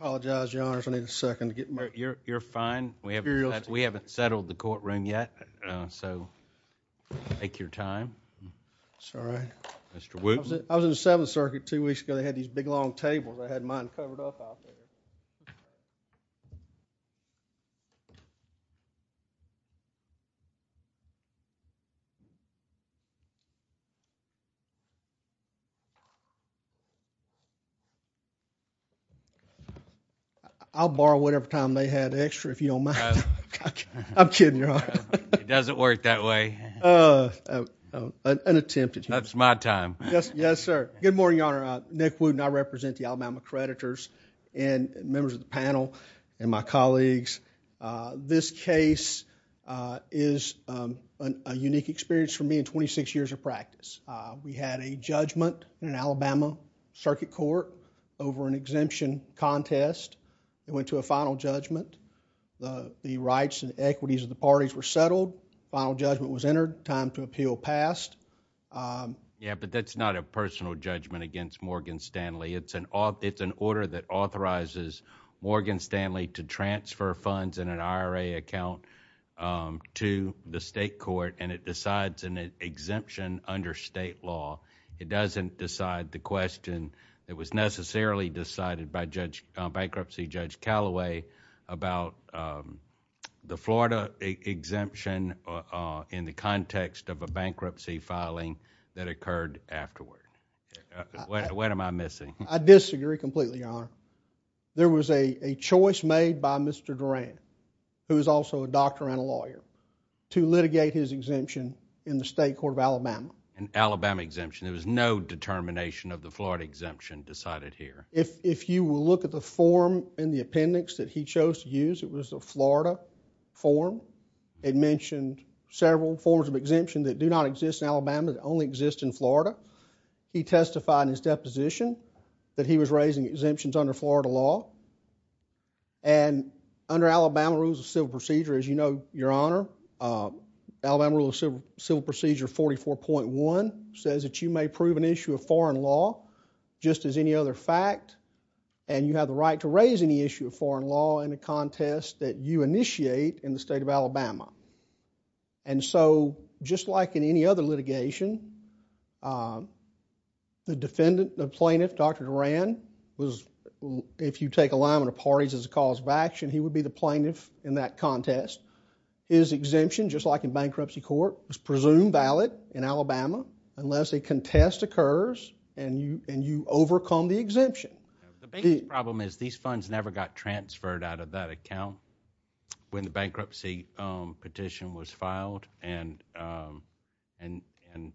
I apologize your honors I need a second to get you're you're fine we have we haven't settled the courtroom yet so take your time sorry mr. Wooten I was in the seventh circuit two weeks ago they had these big long tables I had mine covered up I'll borrow whatever time they had extra if you don't mind I'm kidding your honor it doesn't work that way an attempted that's my time yes yes sir good morning your honor Nick Wooten I represent the Alabama creditors and members of the panel and my colleagues this case is a unique experience for me 26 years of practice we had a judgment in an Alabama circuit court over an exemption contest it went to a final judgment the rights and equities of the parties were settled final judgment was entered time to appeal passed yeah but that's not a personal judgment against Morgan Stanley it's an off it's an order that authorizes Morgan Stanley to transfer funds in an IRA account to the exemption under state law it doesn't decide the question that was necessarily decided by judge bankruptcy judge Callaway about the Florida exemption in the context of a bankruptcy filing that occurred afterward what am I missing I disagree completely your honor there was a choice made by mr. Doran who is also a court of Alabama and Alabama exemption there was no determination of the Florida exemption decided here if you will look at the form in the appendix that he chose to use it was the Florida form it mentioned several forms of exemption that do not exist in Alabama that only exist in Florida he testified in his deposition that he was raising exemptions under Florida law and under Alabama rules of civil procedure as you know your honor Alabama rule of civil procedure 44.1 says that you may prove an issue of foreign law just as any other fact and you have the right to raise any issue of foreign law in a contest that you initiate in the state of Alabama and so just like in any other litigation the defendant the plaintiff dr. Doran was if you take a line when the parties as a cause of action he would be the plaintiff in that contest is exemption just like in bankruptcy court was presumed valid in Alabama unless a contest occurs and you and you overcome the exemption the problem is these funds never got transferred out of that account when the bankruptcy petition was filed and and and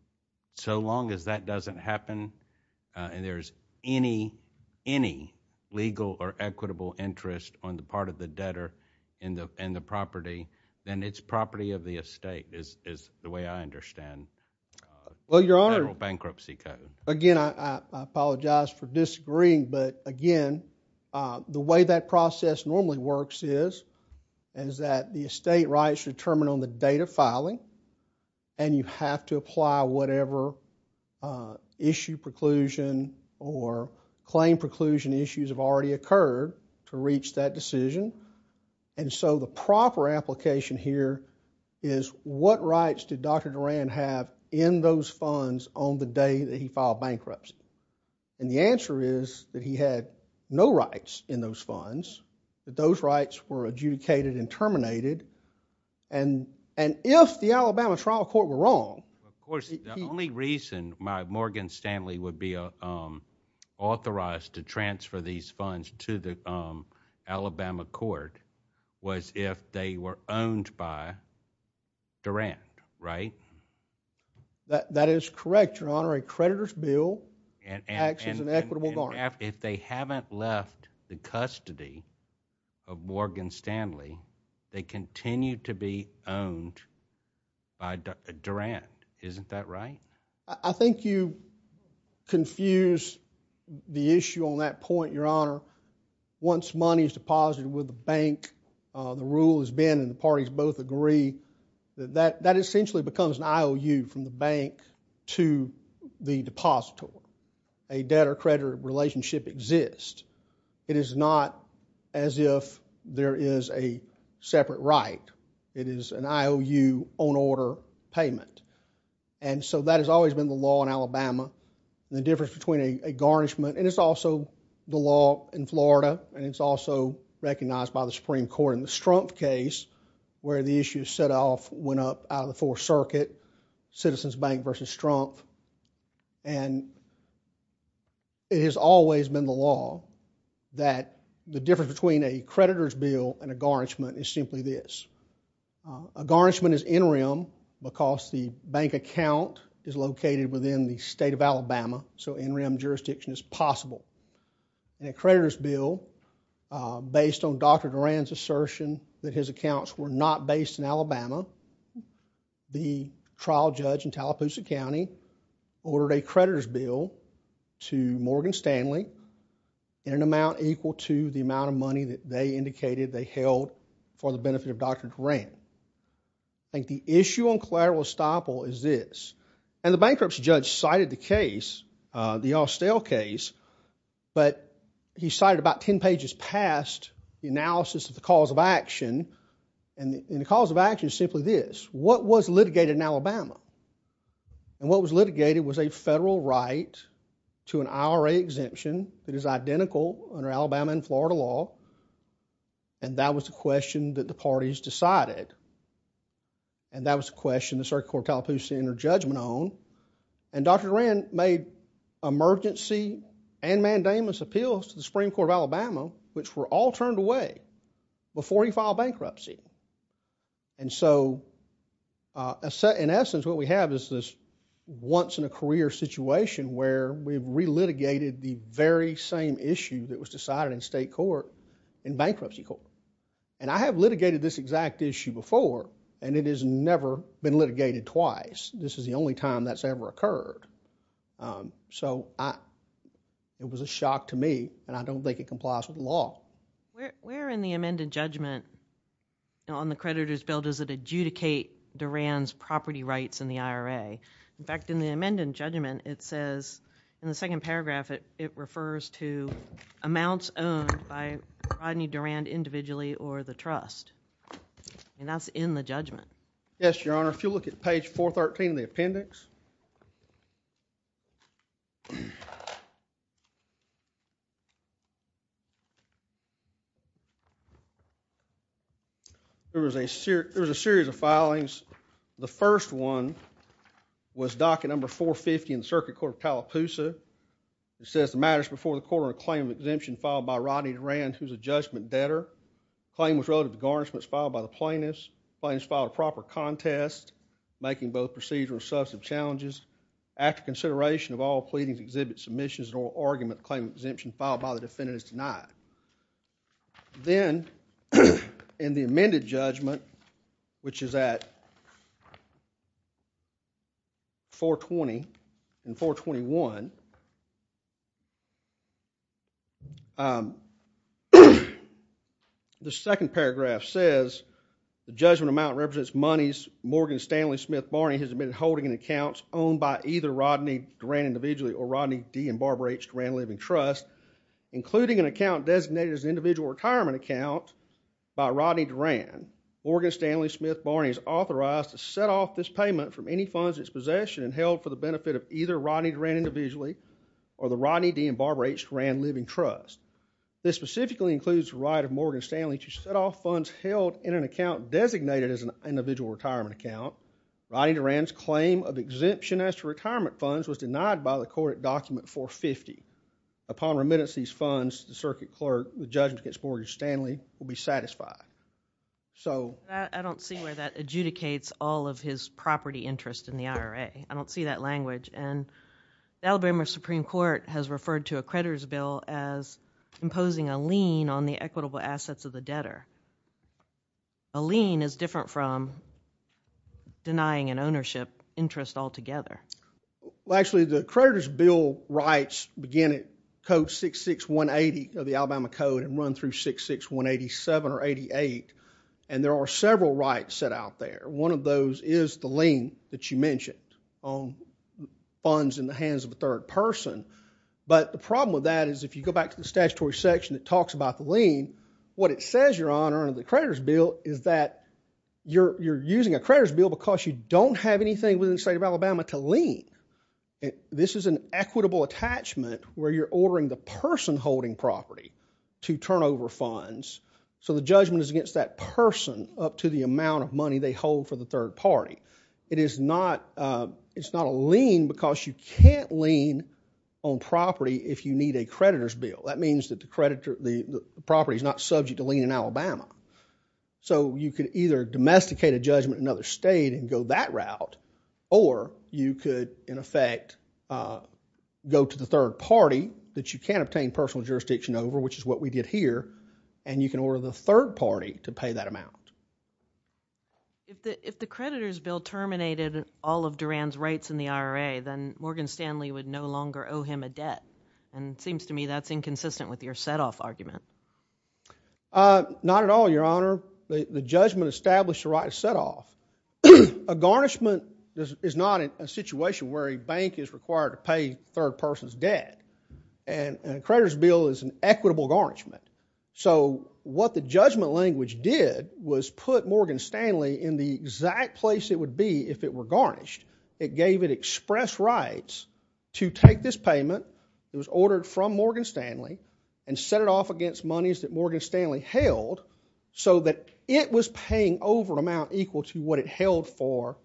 so long as that doesn't happen and there's any any legal or equitable interest on the part of the debtor in the end the property then it's property of the estate is the way I understand well your honor bankruptcy code again I apologize for disagreeing but again the way that process normally works is and is that the estate rights determine on the date of filing and you have to apply whatever issue preclusion or claim preclusion issues have already occurred to reach that decision and so the proper application here is what rights did dr. Doran have in those funds on the day that he filed bankruptcy and the answer is that he had no rights in those funds that those rights were adjudicated and terminated and and if the Alabama trial court were wrong the only reason my Morgan Stanley would be authorized to transfer these funds to the Alabama court was if they were owned by Durant right that that is correct your honor a creditor's bill and access an equitable law if they haven't left the custody of Morgan Stanley they continue to be owned by Durant isn't that right I think you confuse the issue on that point your honor once money is deposited with the bank the rule has been and the parties both agree that that essentially becomes an IOU from the bank to the depositor a debtor creditor relationship exists it is not as if there is a separate right it is an IOU on order payment and so that has always been the law in Alabama the difference between a garnishment and it's also the law in Florida and it's also recognized by the Supreme Court in the Strump case where the issue set off went up out of the Fourth Circuit Citizens Bank versus Trump and it has always been the law that the difference between a creditor's bill and a garnishment is interim because the bank account is located within the state of Alabama so interim jurisdiction is possible and a creditor's bill based on Dr. Durant's assertion that his accounts were not based in Alabama the trial judge in Tallapoosa County ordered a creditor's bill to Morgan Stanley in an amount equal to the amount of money that they indicated they held for the benefit of Dr. Durant. I think the issue on collateral estoppel is this and the bankruptcy judge cited the case the Austell case but he cited about ten pages past the analysis of the cause of action and the cause of action is simply this what was litigated in Alabama and what was litigated was a federal right to an IRA exemption that is identical under Alabama and Florida law and that was the question that the parties decided and that was a question the circuit court of Tallapoosa ended their judgment on and Dr. Durant made emergency and mandamus appeals to the Supreme Court of Alabama which were all turned away before he filed bankruptcy and so in essence what we have is this once-in-a-career situation where we've relitigated the very same issue that was decided in state court in bankruptcy court and I have litigated this exact issue before and it is never been litigated twice this is the only time that's ever occurred so it was a shock to me and I don't think it complies with law. Where in the amended judgment on the creditor's bill does it adjudicate Durant's property rights in the IRA? In fact in the amended judgment it says in the second paragraph it refers to amounts owned by Rodney Durant individually or the trust and that's in the judgment. Yes your honor if you look at page 413 of the appendix there was a series of filings the first one was docket number 450 in circuit court of Tallapoosa it says the matters before the court are a claim of by Rodney Durant who's a judgment debtor. Claim was relative to garnishments filed by the plaintiffs. Plaintiffs filed a proper contest making both procedural and substantive challenges. After consideration of all pleadings exhibit submissions and oral argument claim exemption filed by the defendants denied. Then in the amended judgment which is at 420 and 421 the second paragraph says the judgment amount represents monies Morgan Stanley Smith Barney has been holding an accounts owned by either Rodney Durant individually or Rodney D and Barbara H Durant Living Trust including an account designated as an individual retirement account by Rodney Durant. Morgan Stanley Smith Barney is authorized to set off this payment from any funds its possession and held for the benefit of either Rodney Durant individually or the Rodney D and Barbara H Durant Living Trust. This specifically includes right of Morgan Stanley to set off funds held in an account designated as an individual retirement account. Rodney Durant's claim of exemption as to retirement funds was denied by the circuit document 450. Upon remittance of these funds the circuit clerk the judgment against Morgan Stanley will be satisfied. I don't see where that adjudicates all of his property interest in the IRA. I don't see that language. Alabama Supreme Court has referred to a creditor's bill as imposing a lien on the equitable assets of the debtor. A lien is different from denying an ownership interest altogether. Well actually the creditor's bill rights begin at code 66180 of the Alabama Code and run through 66187 or 88 and there are several rights set out there. One of those is the lien that you mentioned on funds in the hands of a third person but the problem with that is if you go back to the statutory section that talks about the lien what it says your honor under the creditor's bill is that you're you're using a creditor's bill because you don't have anything within the state of Alabama to lien. This is an equitable attachment where you're ordering the person holding property to turn over funds so the judgment is against that person up to the amount of money they hold for the third party. It is not it's not a lien because you can't lien on property if you need a creditor's bill. That means that the creditor the property is not subject to lien in Alabama. So you could either domesticate a judgment in another state and go that route or you could in effect go to the third party that you can't obtain personal jurisdiction over which is what we did here and you can order the third party to pay that amount. If the creditor's bill terminated all of Duran's rights in the IRA then Morgan Stanley would no longer owe him a debt and it seems to me that's inconsistent with your setoff argument. Not at all your honor. The judgment established the right to set off. A garnishment is not in a situation where a bank is required to pay third person's debt and a creditor's bill is an equitable garnishment. So what the judgment language did was put Morgan Stanley in the exact place it would be if it were garnished. It gave it express rights to take this payment it was ordered from Morgan Stanley and set it off against monies that Morgan Stanley held so that it was paying over an amount equal to what it held for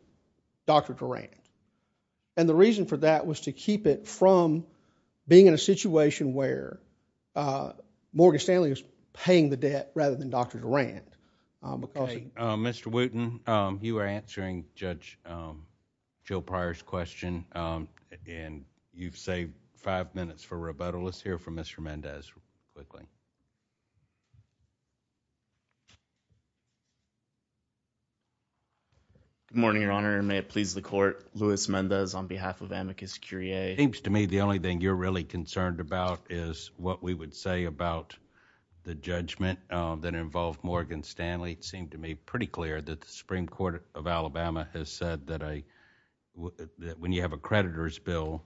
Dr. Durant. The reason for that was to keep it from being in a situation where Morgan Stanley was paying the debt rather than Dr. Durant. Okay. Mr. Wooten, you were answering Judge Joe Pryor's question and you've saved five minutes for rebuttal. Let's hear from Mr. Mendez quickly. Good morning, your honor. May it please the court, Louis Mendez on behalf of Amicus Curiae. It seems to me the only thing you're really concerned about is what we would say about the judgment that involved Morgan Stanley. It seemed to me pretty clear that the Supreme Court of Alabama has said that when you have a creditor's bill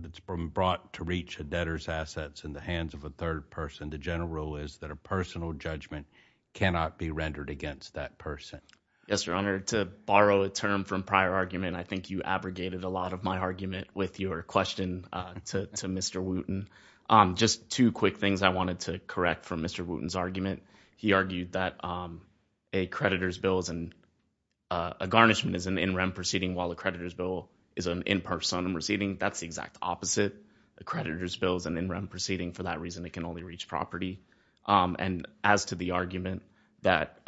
that's been brought to reach a debtor's assets in the hands of a third person, the general rule is that a personal judgment cannot be rendered against that person. Yes, your honor. To borrow a term from prior argument, I think you abrogated a lot of my argument with your question to Mr. Wooten. Just two quick things I wanted to correct from Mr. Wooten's argument. He argued that a creditor's bill, a garnishment is an in rem proceeding while a creditor's bill is an in personam proceeding. That's the exact opposite. A creditor's bill is an in rem proceeding for that reason it can only reach property. And as to the argument that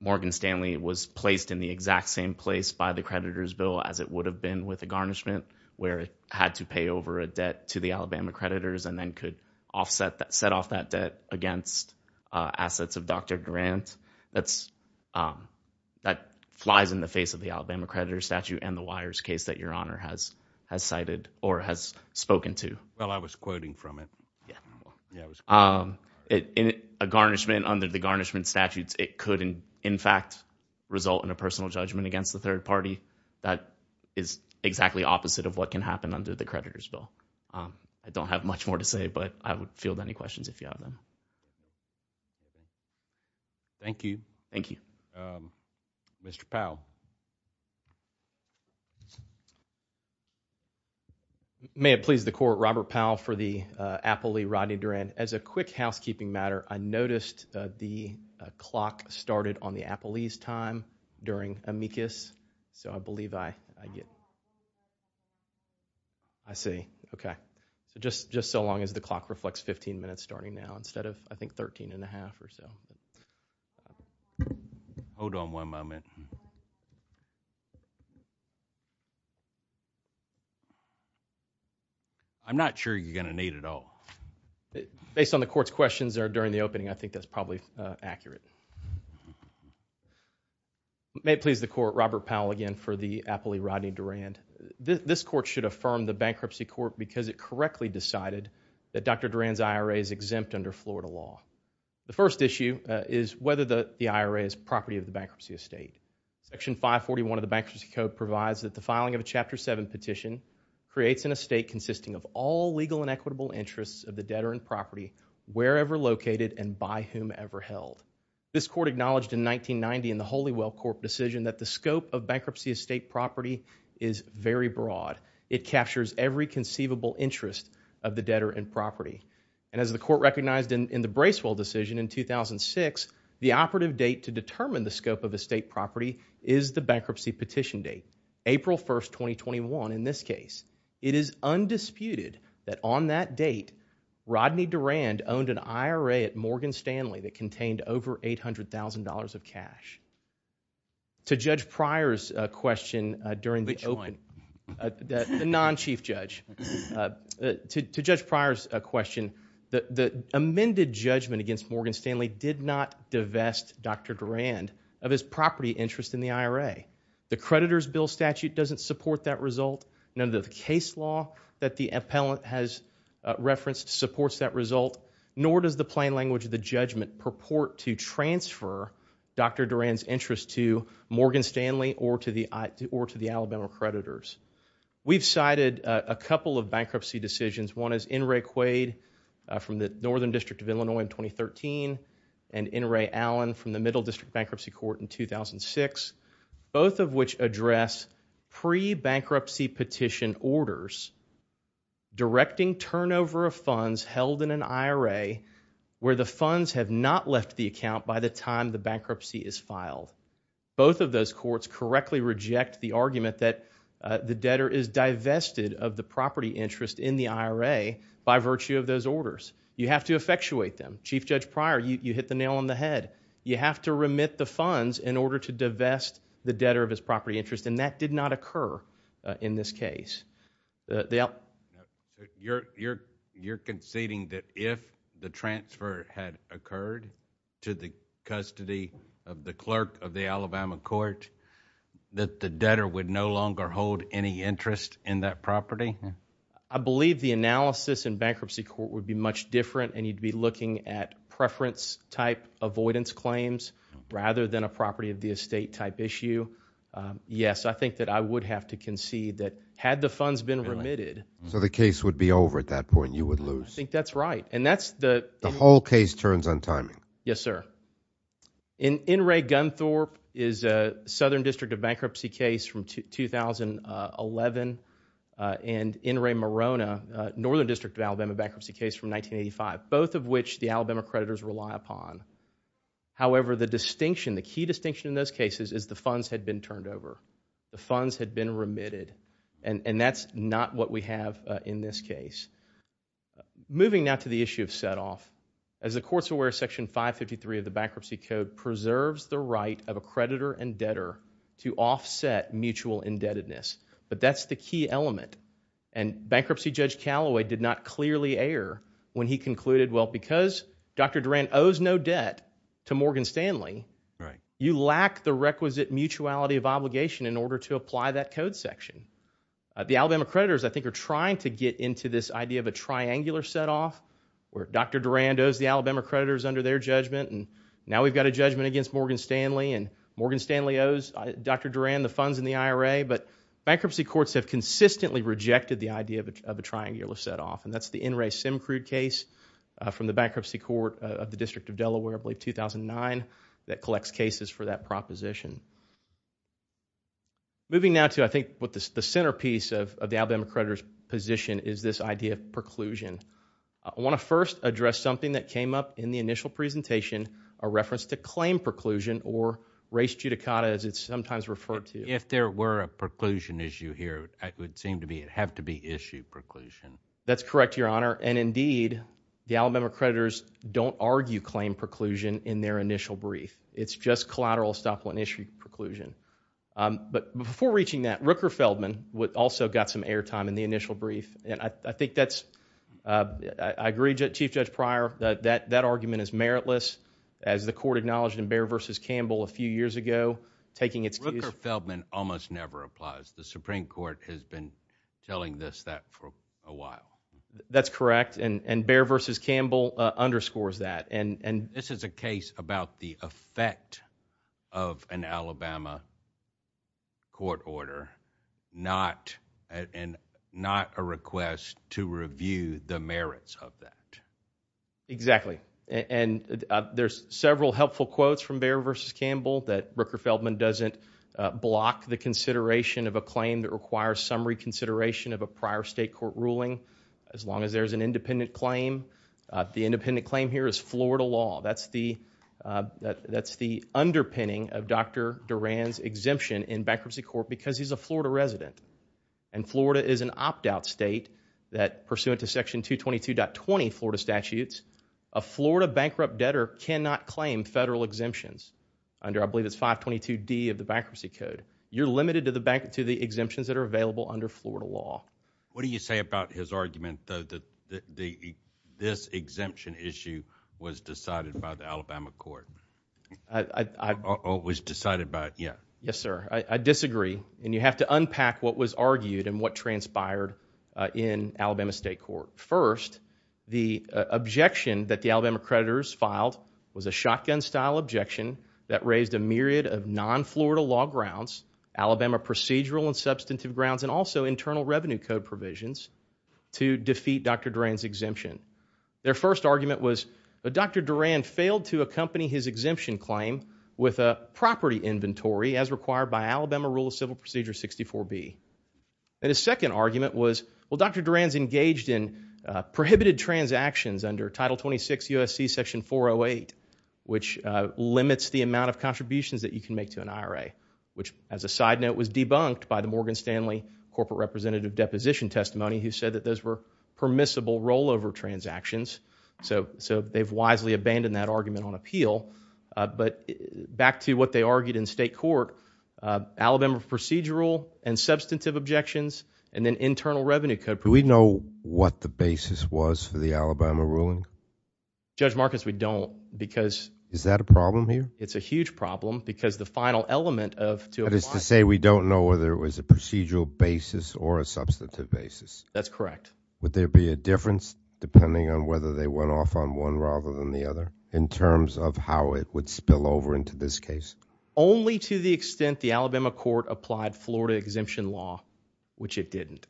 Morgan Stanley was placed in the exact same place by the creditor's bill as it would have been with a garnishment where it had to pay over a debt to the Alabama creditors and then could offset that, set off that debt against assets of Dr. Durant, that flies in the face of the Alabama creditor's statute and the wires case that your honor has cited or has spoken to. Well, I was quoting from it. A garnishment under the garnishment statutes, it could in fact result in a personal judgment against the third party. That is exactly opposite of what can happen under the creditor's bill. I don't have much more to say, but I would Thank you. Thank you. Mr. Powell. May it please the court, Robert Powell for the Appley, Rodney Durant. As a quick housekeeping matter, I noticed the clock started on the Appley's time during amicus, so I believe I get, I see, okay. Just just so long as the clock reflects 15 minutes starting now instead of, I think, 13 and a half or so. Hold on one moment. I'm not sure you're gonna need it all. Based on the court's questions or during the opening, I think that's probably accurate. May it please the court, Robert Powell again for the Appley, Rodney Durant. This court should affirm the IRA is exempt under Florida law. The first issue is whether the the IRA is property of the bankruptcy estate. Section 541 of the Bankruptcy Code provides that the filing of a Chapter 7 petition creates an estate consisting of all legal and equitable interests of the debtor and property wherever located and by whom ever held. This court acknowledged in 1990 in the Holywell Corp decision that the scope of bankruptcy estate property is very broad. It captures every conceivable interest of the debtor and property and as the court recognized in the Bracewell decision in 2006, the operative date to determine the scope of estate property is the bankruptcy petition date, April 1st, 2021 in this case. It is undisputed that on that date, Rodney Durant owned an IRA at Morgan Stanley that contained over $800,000 of cash. To Judge Pryor's question, the amended judgment against Morgan Stanley did not divest Dr. Durant of his property interest in the IRA. The creditor's bill statute doesn't support that result. None of the case law that the appellant has referenced supports that result, nor does the plain language of the judgment purport to transfer Dr. Durant's interest to Morgan Stanley or to the Alabama creditors. We've cited a couple of bankruptcy decisions. One is N. Ray Quaid from the Northern District of Illinois in 2013 and N. Ray Allen from the Middle District Bankruptcy Court in 2006, both of which address pre-bankruptcy petition orders directing turnover of funds held in an IRA where the funds have not left the account by the time the bankruptcy is filed. Both of those courts correctly reject the argument that the debtor is divested of the property interest in the IRA by virtue of those orders. You have to effectuate them. Chief Judge Pryor, you hit the nail on the head. You have to remit the funds in order to divest the debtor of his property interest, and that did not occur in this case. You're conceding that if the transfer had occurred to the custody of the clerk of the Alabama court that the debtor would no longer hold any interest in that property? I believe the analysis in bankruptcy court would be much different, and you'd be looking at preference type avoidance claims rather than a property of the estate type issue. Yes, I think that I would have to concede that had the funds been remitted. So the case would be over at that point, you would lose? I think that's right, and that's the... The whole case turns on timing. Yes, sir. In Enray-Gunthorpe is a Southern District of Bankruptcy case from 2011, and Enray-Morona, Northern District of Alabama bankruptcy case from 1985, both of which the Alabama creditors rely upon. However, the distinction, the key distinction in those cases is the funds had been turned over. The funds had been remitted, and that's not what we have in this case. Moving now to the issue of set-off. As the courts aware, Section 553 of the Bankruptcy Code preserves the right of a creditor and debtor to offset mutual indebtedness, but that's the key element, and Bankruptcy Judge Callaway did not clearly err when he concluded, well, because Dr. Durand owes no debt to Morgan Stanley, you lack the section. The Alabama creditors, I think, are trying to get into this idea of a triangular set-off, where Dr. Durand owes the Alabama creditors under their judgment, and now we've got a judgment against Morgan Stanley, and Morgan Stanley owes Dr. Durand the funds in the IRA, but bankruptcy courts have consistently rejected the idea of a triangular set-off, and that's the Enray- Simcrude case from the Bankruptcy Court of the District of Delaware, I believe, the centerpiece of the Alabama creditors' position is this idea of preclusion. I want to first address something that came up in the initial presentation, a reference to claim preclusion, or res judicata, as it's sometimes referred to. If there were a preclusion issue here, it would seem to have to be issue preclusion. That's correct, Your Honor, and indeed, the Alabama creditors don't argue claim preclusion in their initial brief. It's just collateral estoppel and issue preclusion, but before reaching that, Rooker-Feldman also got some airtime in the initial brief, and I think that's, I agree, Chief Judge Pryor, that that argument is meritless, as the court acknowledged in Baer v. Campbell a few years ago, taking its case... Rooker-Feldman almost never applies. The Supreme Court has been telling this, that, for a while. That's correct, and Baer v. Campbell underscores that, and this is a case about the effect of an Alabama court order, not a request to review the merits of that. Exactly, and there's several helpful quotes from Baer v. Campbell, that Rooker-Feldman doesn't block the consideration of a claim that requires summary consideration of a prior state court ruling, as long as there's an independent claim. The independent claim here is Florida law. That's the underpinning of Dr. Duran's exemption in bankruptcy court, because he's a Florida resident, and Florida is an opt-out state that, pursuant to section 222.20 Florida statutes, a Florida bankrupt debtor cannot claim federal exemptions under, I believe it's 522 D of the Bankruptcy Code. You're limited to the exemptions that are available under Florida law. What do you say about his argument, though, that this exemption issue was decided by the Alabama court? Yes, sir. I disagree, and you have to unpack what was argued and what transpired in Alabama State Court. First, the objection that the Alabama creditors filed was a shotgun-style objection that raised a myriad of non-Florida law grounds, Alabama procedural and substantive grounds, and also internal revenue code provisions to defeat Dr. Duran. The first argument was that Dr. Duran failed to accompany his exemption claim with a property inventory, as required by Alabama Rule of Civil Procedure 64B. And his second argument was, well, Dr. Duran's engaged in prohibited transactions under Title 26 USC section 408, which limits the amount of contributions that you can make to an IRA, which, as a side note, was debunked by the Morgan Stanley corporate representative deposition testimony, who said that those were permissible rollover transactions. So they've wisely abandoned that argument on appeal, but back to what they argued in state court, Alabama procedural and substantive objections, and then internal revenue code. Do we know what the basis was for the Alabama ruling? Judge Marcus, we don't, because... Is that a problem here? It's a huge problem, because the final element of... That is to say, we don't know whether it was a procedural basis or a substantive basis? That's correct. Would there be a difference, depending on whether they went off on one rather than the other, in terms of how it would spill over into this case? Only to the extent the Alabama court applied Florida exemption law, which it didn't.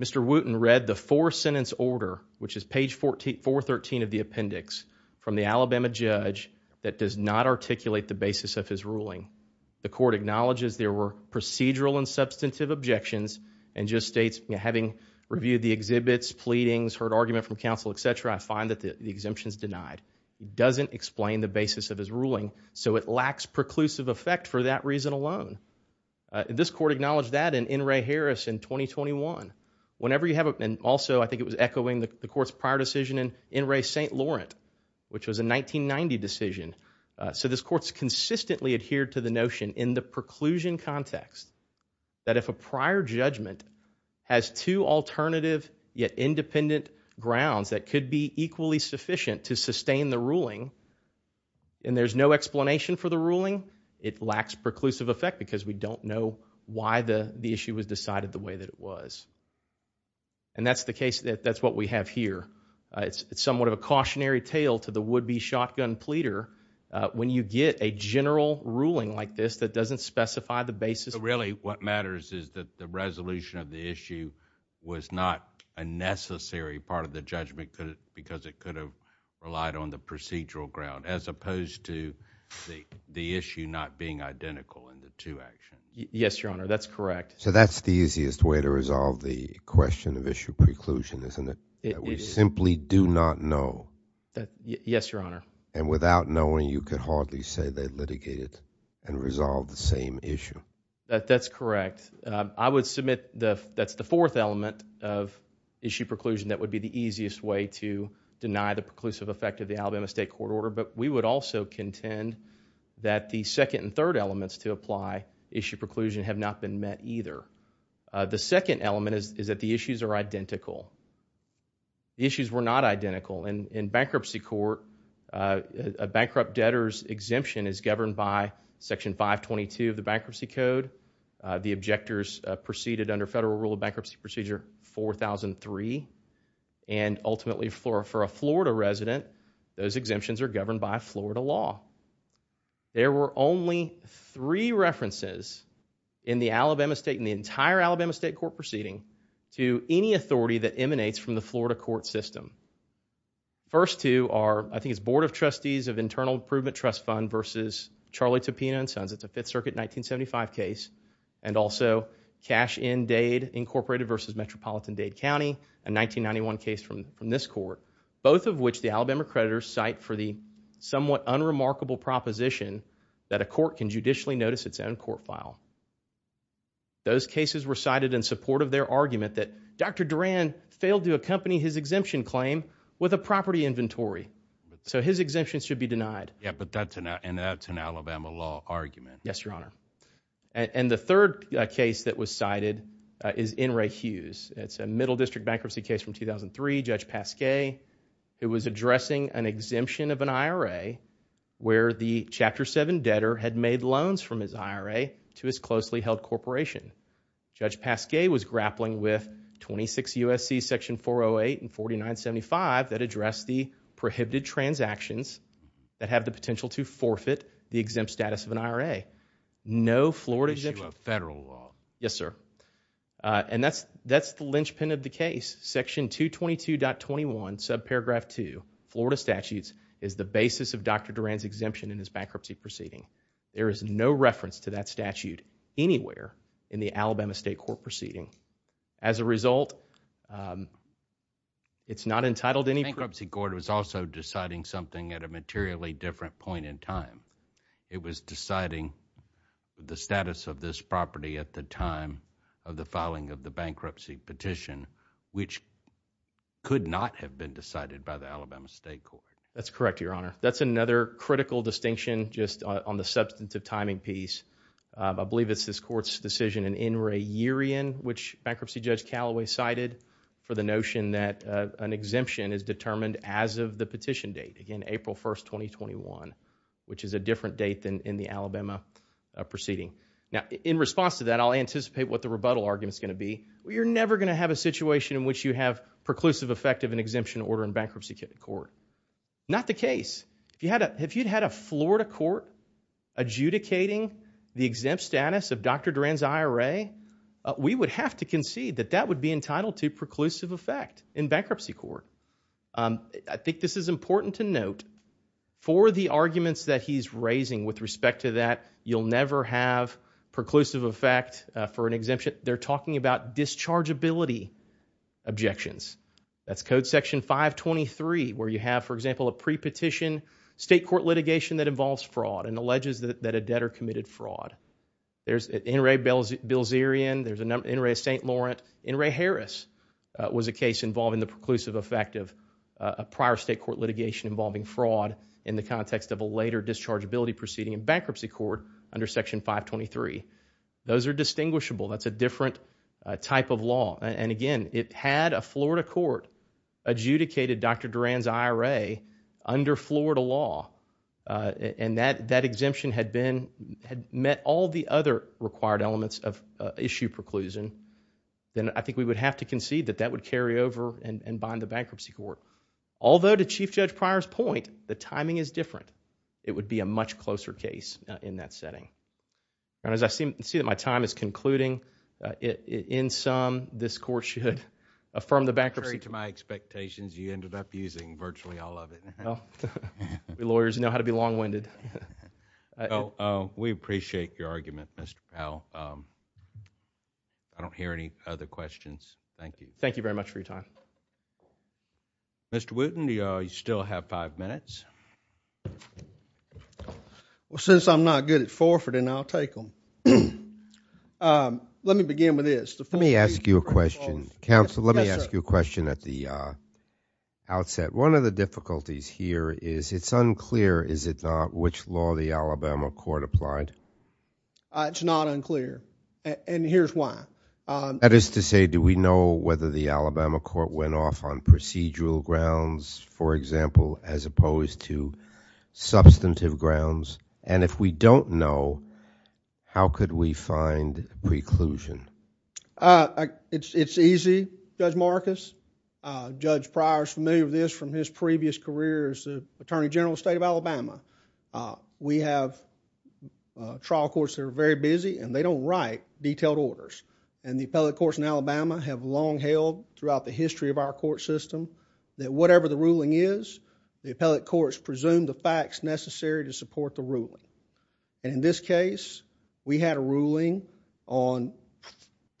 Mr. Wooten read the four-sentence order, which is page 413 of the appendix, from the Alabama judge, that does not articulate the basis of his ruling. The court acknowledges there were procedural and substantive objections, and just states, having reviewed the exhibits, pleadings, heard argument from counsel, etc., I find that the exemption is denied. It doesn't explain the basis of his ruling, so it lacks preclusive effect for that reason alone. This court acknowledged that in N. Ray Harris in 2021. Whenever you have a... And also, I think it was echoing the court's prior decision in N. Ray St. Laurent, which was a 1990 decision. So this court's consistently adhered to the notion, in the preclusion context, that if a prior judgment has two alternative, yet independent, grounds that could be equally sufficient to sustain the ruling, and there's no explanation for the ruling, it lacks preclusive effect, because we don't know why the the issue was decided the way that it was. And that's the case, that's what we have here. It's somewhat of a cautionary tale to the would-be shotgun pleader, when you get a general ruling like this that doesn't specify the basis. So really, what matters is that the resolution of the issue was not a necessary part of the judgment, because it could have relied on the procedural ground, as opposed to the the issue not being identical in the two actions. Yes, Your Honor, that's correct. So that's the easiest way to resolve the question of issue preclusion, isn't it? We simply do not know. Yes, Your Honor. And without knowing, you could hardly say they litigated and resolved the same issue. That's correct. I would submit that's the fourth element of issue preclusion that would be the easiest way to deny the preclusive effect of the Alabama State Court order, but we would also contend that the second and third elements to apply issue preclusion have not been met either. The second element is that the issues are identical. The issues were not identical. In bankruptcy court, a bankrupt debtor's exemption is governed by Section 522 of the Bankruptcy Code. The objectors proceeded under Federal Rule of Bankruptcy Procedure 4003, and ultimately for a Florida resident, those exemptions are governed by Florida law. There were only three references in the Alabama State and the entire Alabama State Court proceeding to any authority that emanates from the Florida court system. First two are, I think it's Board of Trustees of Internal Improvement Trust Fund versus Charlie Topina and Sons. It's a Fifth Circuit 1975 case, and also Cash in Dade Incorporated versus Metropolitan Dade County, a 1991 case from this court, both of which the Alabama creditors cite for the somewhat unremarkable proposition that a court can judicially notice its own court file. Those cases were cited in support of their argument that Dr. Pascay should accompany his exemption claim with a property inventory. So his exemptions should be denied. Yeah, but that's an Alabama law argument. Yes, Your Honor. And the third case that was cited is N. Ray Hughes. It's a Middle District bankruptcy case from 2003. Judge Pascay was addressing an exemption of an IRA where the Chapter 7 debtor had made loans from his IRA to his closely held corporation. Judge Pascay was grappling with 26 U.S.C. sections 408 and 4975 that address the prohibited transactions that have the potential to forfeit the exempt status of an IRA. No Florida exemption. This is a federal law. Yes, sir. And that's the linchpin of the case. Section 222.21, subparagraph 2, Florida statutes, is the basis of Dr. Duran's exemption in his bankruptcy proceeding. There is no reference to that statute anywhere in the Alabama State Court proceeding. As a result, it's not entitled any bankruptcy court was also deciding something at a materially different point in time. It was deciding the status of this property at the time of the filing of the bankruptcy petition, which could not have been decided by the Alabama State Court. That's correct, Your Honor. That's another critical distinction just on the substantive timing piece. I believe it's this court's decision in N. Ray Yerian, which bankruptcy judge Callaway cited for the notion that an exemption is determined as of the petition date. Again, April 1st, 2021, which is a different date than in the Alabama proceeding. Now, in response to that, I'll anticipate what the rebuttal argument is going to be. You're never going to have a situation in which you have preclusive effect of an exemption order in bankruptcy court. Not the case. If you had a Florida court adjudicating the exempt status of Dr. Durand's IRA, we would have to concede that that would be entitled to preclusive effect in bankruptcy court. I think this is important to note for the arguments that he's raising with respect to that you'll never have preclusive effect for an exemption. They're talking about dischargeability objections. That's Code Section 523, where you have, for litigation that involves fraud and alleges that a debtor committed fraud. There's N. Ray Bilzerian. There's N. Ray St. Laurent. N. Ray Harris was a case involving the preclusive effect of a prior state court litigation involving fraud in the context of a later dischargeability proceeding in bankruptcy court under Section 523. Those are distinguishable. That's a different type of law. And again, it had a Florida court adjudicated Dr. Durand's IRA under Florida law. And that exemption had met all the other required elements of issue preclusion. Then I think we would have to concede that that would carry over and bind the bankruptcy court. Although, to Chief Judge Pryor's point, the timing is different. It would be a much closer case in that setting. As I see that my time is concluding, in sum this court should affirm the bankruptcy... Lawyers know how to be long-winded. We appreciate your argument, Mr. Powell. I don't hear any other questions. Thank you. Thank you very much for your time. Mr. Wooten, you still have five minutes. Well, since I'm not good at forfeiting, I'll take them. Let me begin with this. Let me ask you a question, counsel. Let me ask you a question at the outset. One of the difficulties here is it's unclear, is it not, which law the Alabama court applied? It's not unclear, and here's why. That is to say, do we know whether the Alabama court went off on procedural grounds, for example, as opposed to substantive grounds? And if we don't know, how could we find preclusion? It's easy, Judge Marcus. Judge Pryor is familiar with this from his previous career as the Attorney General of the State of Alabama. We have trial courts that are very busy and they don't write detailed orders. The appellate courts in Alabama have long held throughout the history of our court system that whatever the ruling is, the appellate courts presume the facts necessary to resolve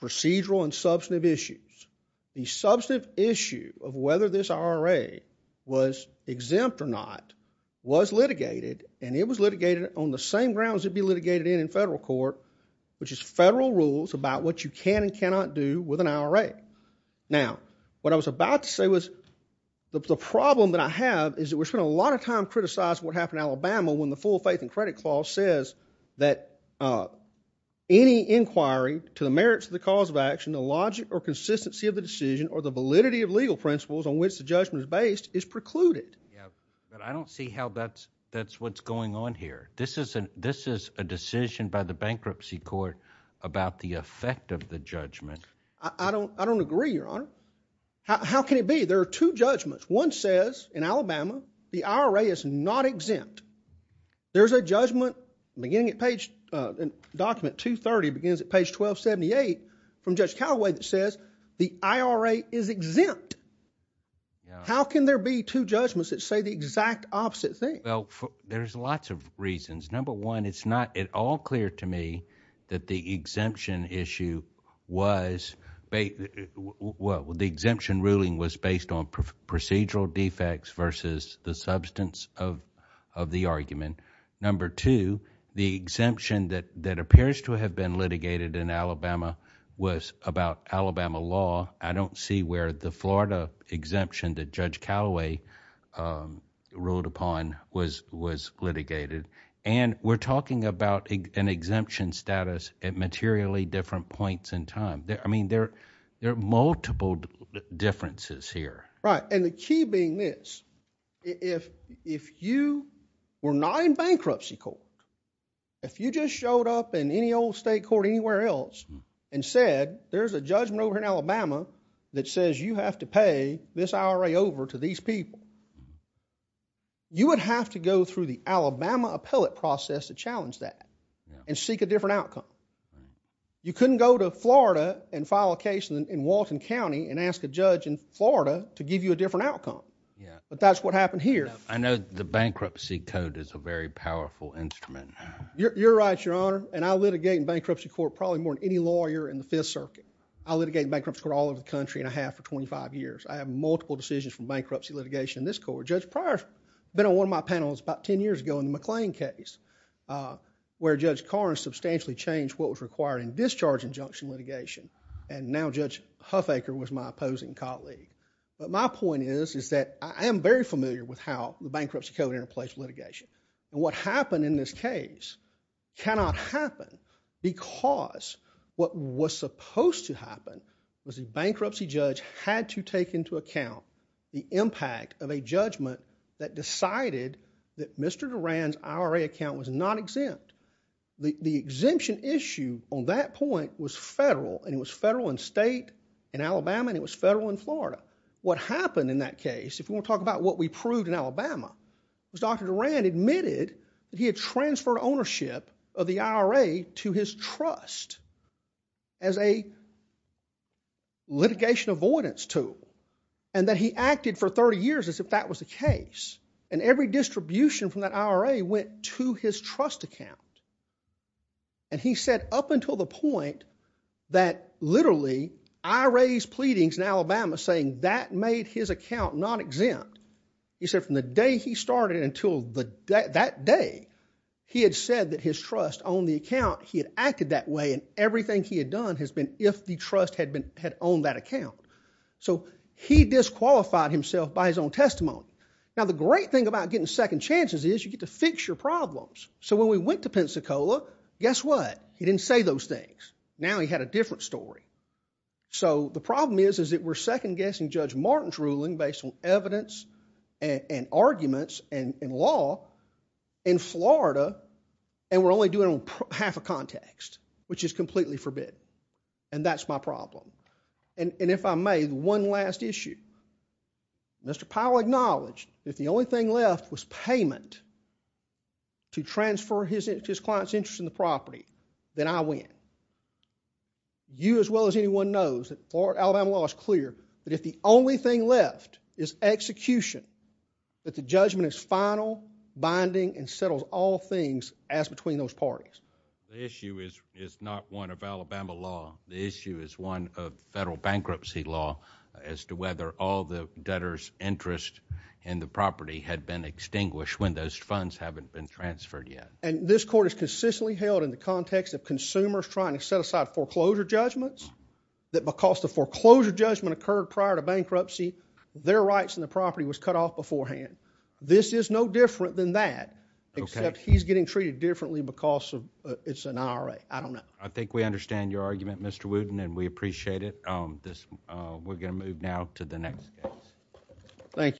procedural and substantive issues. The substantive issue of whether this IRA was exempt or not was litigated, and it was litigated on the same grounds it'd be litigated in in federal court, which is federal rules about what you can and cannot do with an IRA. Now, what I was about to say was the problem that I have is that we spend a lot of time criticizing what happened in Alabama when the full faith and merits of the cause of action, the logic or consistency of the decision, or the validity of legal principles on which the judgment is based is precluded. I don't see how that's what's going on here. This is a decision by the bankruptcy court about the effect of the judgment. I don't agree, Your Honor. How can it be? There are two judgments. One says in Alabama the IRA is not exempt. There's a judgment beginning at page, in document 230, begins at page 1278 from Judge Callaway that says the IRA is exempt. How can there be two judgments that say the exact opposite thing? Well, there's lots of reasons. Number one, it's not at all clear to me that the exemption issue was... the exemption ruling was based on procedural defects versus the substance of the argument. Number two, the exemption that appears to have been litigated in Alabama was about Alabama law. I don't see where the Florida exemption that Judge Callaway ruled upon was litigated. We're talking about an exemption status at materially different points in time. I mean, there are multiple differences here. Right. The key being this. If you were not in bankruptcy court, if you just showed up in any old state court anywhere else and said, there's a judgment over here in Alabama that says you have to pay this IRA over to these people, you would have to go through the Alabama appellate process to challenge that and seek a different outcome. You couldn't go to Florida and file a case in Walton County and ask a judge in Florida to give you a different outcome. That's what happened here. I know the bankruptcy code is a very powerful instrument. You're right, Your Honor. I litigate in bankruptcy court probably more than any lawyer in the Fifth Circuit. I litigate in bankruptcy court all over the country and I have for twenty-five years. I have multiple decisions from bankruptcy litigation in this court. Judge Pryor, been on one of my panels about ten years ago in the McLean case, where Judge Carr substantially changed what was required in discharge injunction litigation. Now, Judge Huffaker was my opposing colleague. My point is that I am very familiar with how the bankruptcy code interplays litigation. What happened in this case cannot happen because what was supposed to happen was the bankruptcy judge had to take into account the impact of a judgment that decided that Mr. Duran's IRA account was not exempt. The exemption issue on that point was federal. It was federal in state in Alabama and it was federal in Florida. What happened in that case, if you want to talk about what we proved in Alabama, was Dr. Duran admitted that he had transferred ownership of the IRA to his trust as a litigation avoidance tool and that he acted for thirty years as if that was the case. Every distribution from that IRA went to his trust account. He said, up until the point that literally I raised pleadings in Alabama saying that made his account not exempt. He said from the day he started until that day, he had said that his trust on the account, he had acted that way and everything he had done has been if the trust had owned that account. He disqualified himself by his own testimony. Now, the great thing about getting second chances is you get to fix your problems. When we went to Pensacola, guess what? He didn't say those things. Now he had a different story. The problem is that we're second guessing Judge Martin's ruling based on evidence and arguments and law in Florida and we're only doing it on half a context, which is completely forbid. That's my problem. If I may, one last issue. Mr. Powell acknowledged if the only thing left was payment to transfer his client's interest in the property, then I win. You as well as anyone knows that Alabama law is clear that if the only thing left is execution, that the judgment is final, binding and settles all things as between those parties. The issue is not one of Alabama law. The issue is one of federal bankruptcy law as to whether all the debtor's interest in the property had been extinguished when those funds haven't been transferred yet. This court has consistently held in the context of consumers trying to set aside foreclosure judgments that because the foreclosure judgment occurred prior to bankruptcy, their rights in the property was cut off beforehand. This is no different than that, except he's getting treated differently because it's an IRA. I don't know. I think we understand your argument, Mr. Wooten, and we appreciate it. We're going to move now to the next case. Thank you.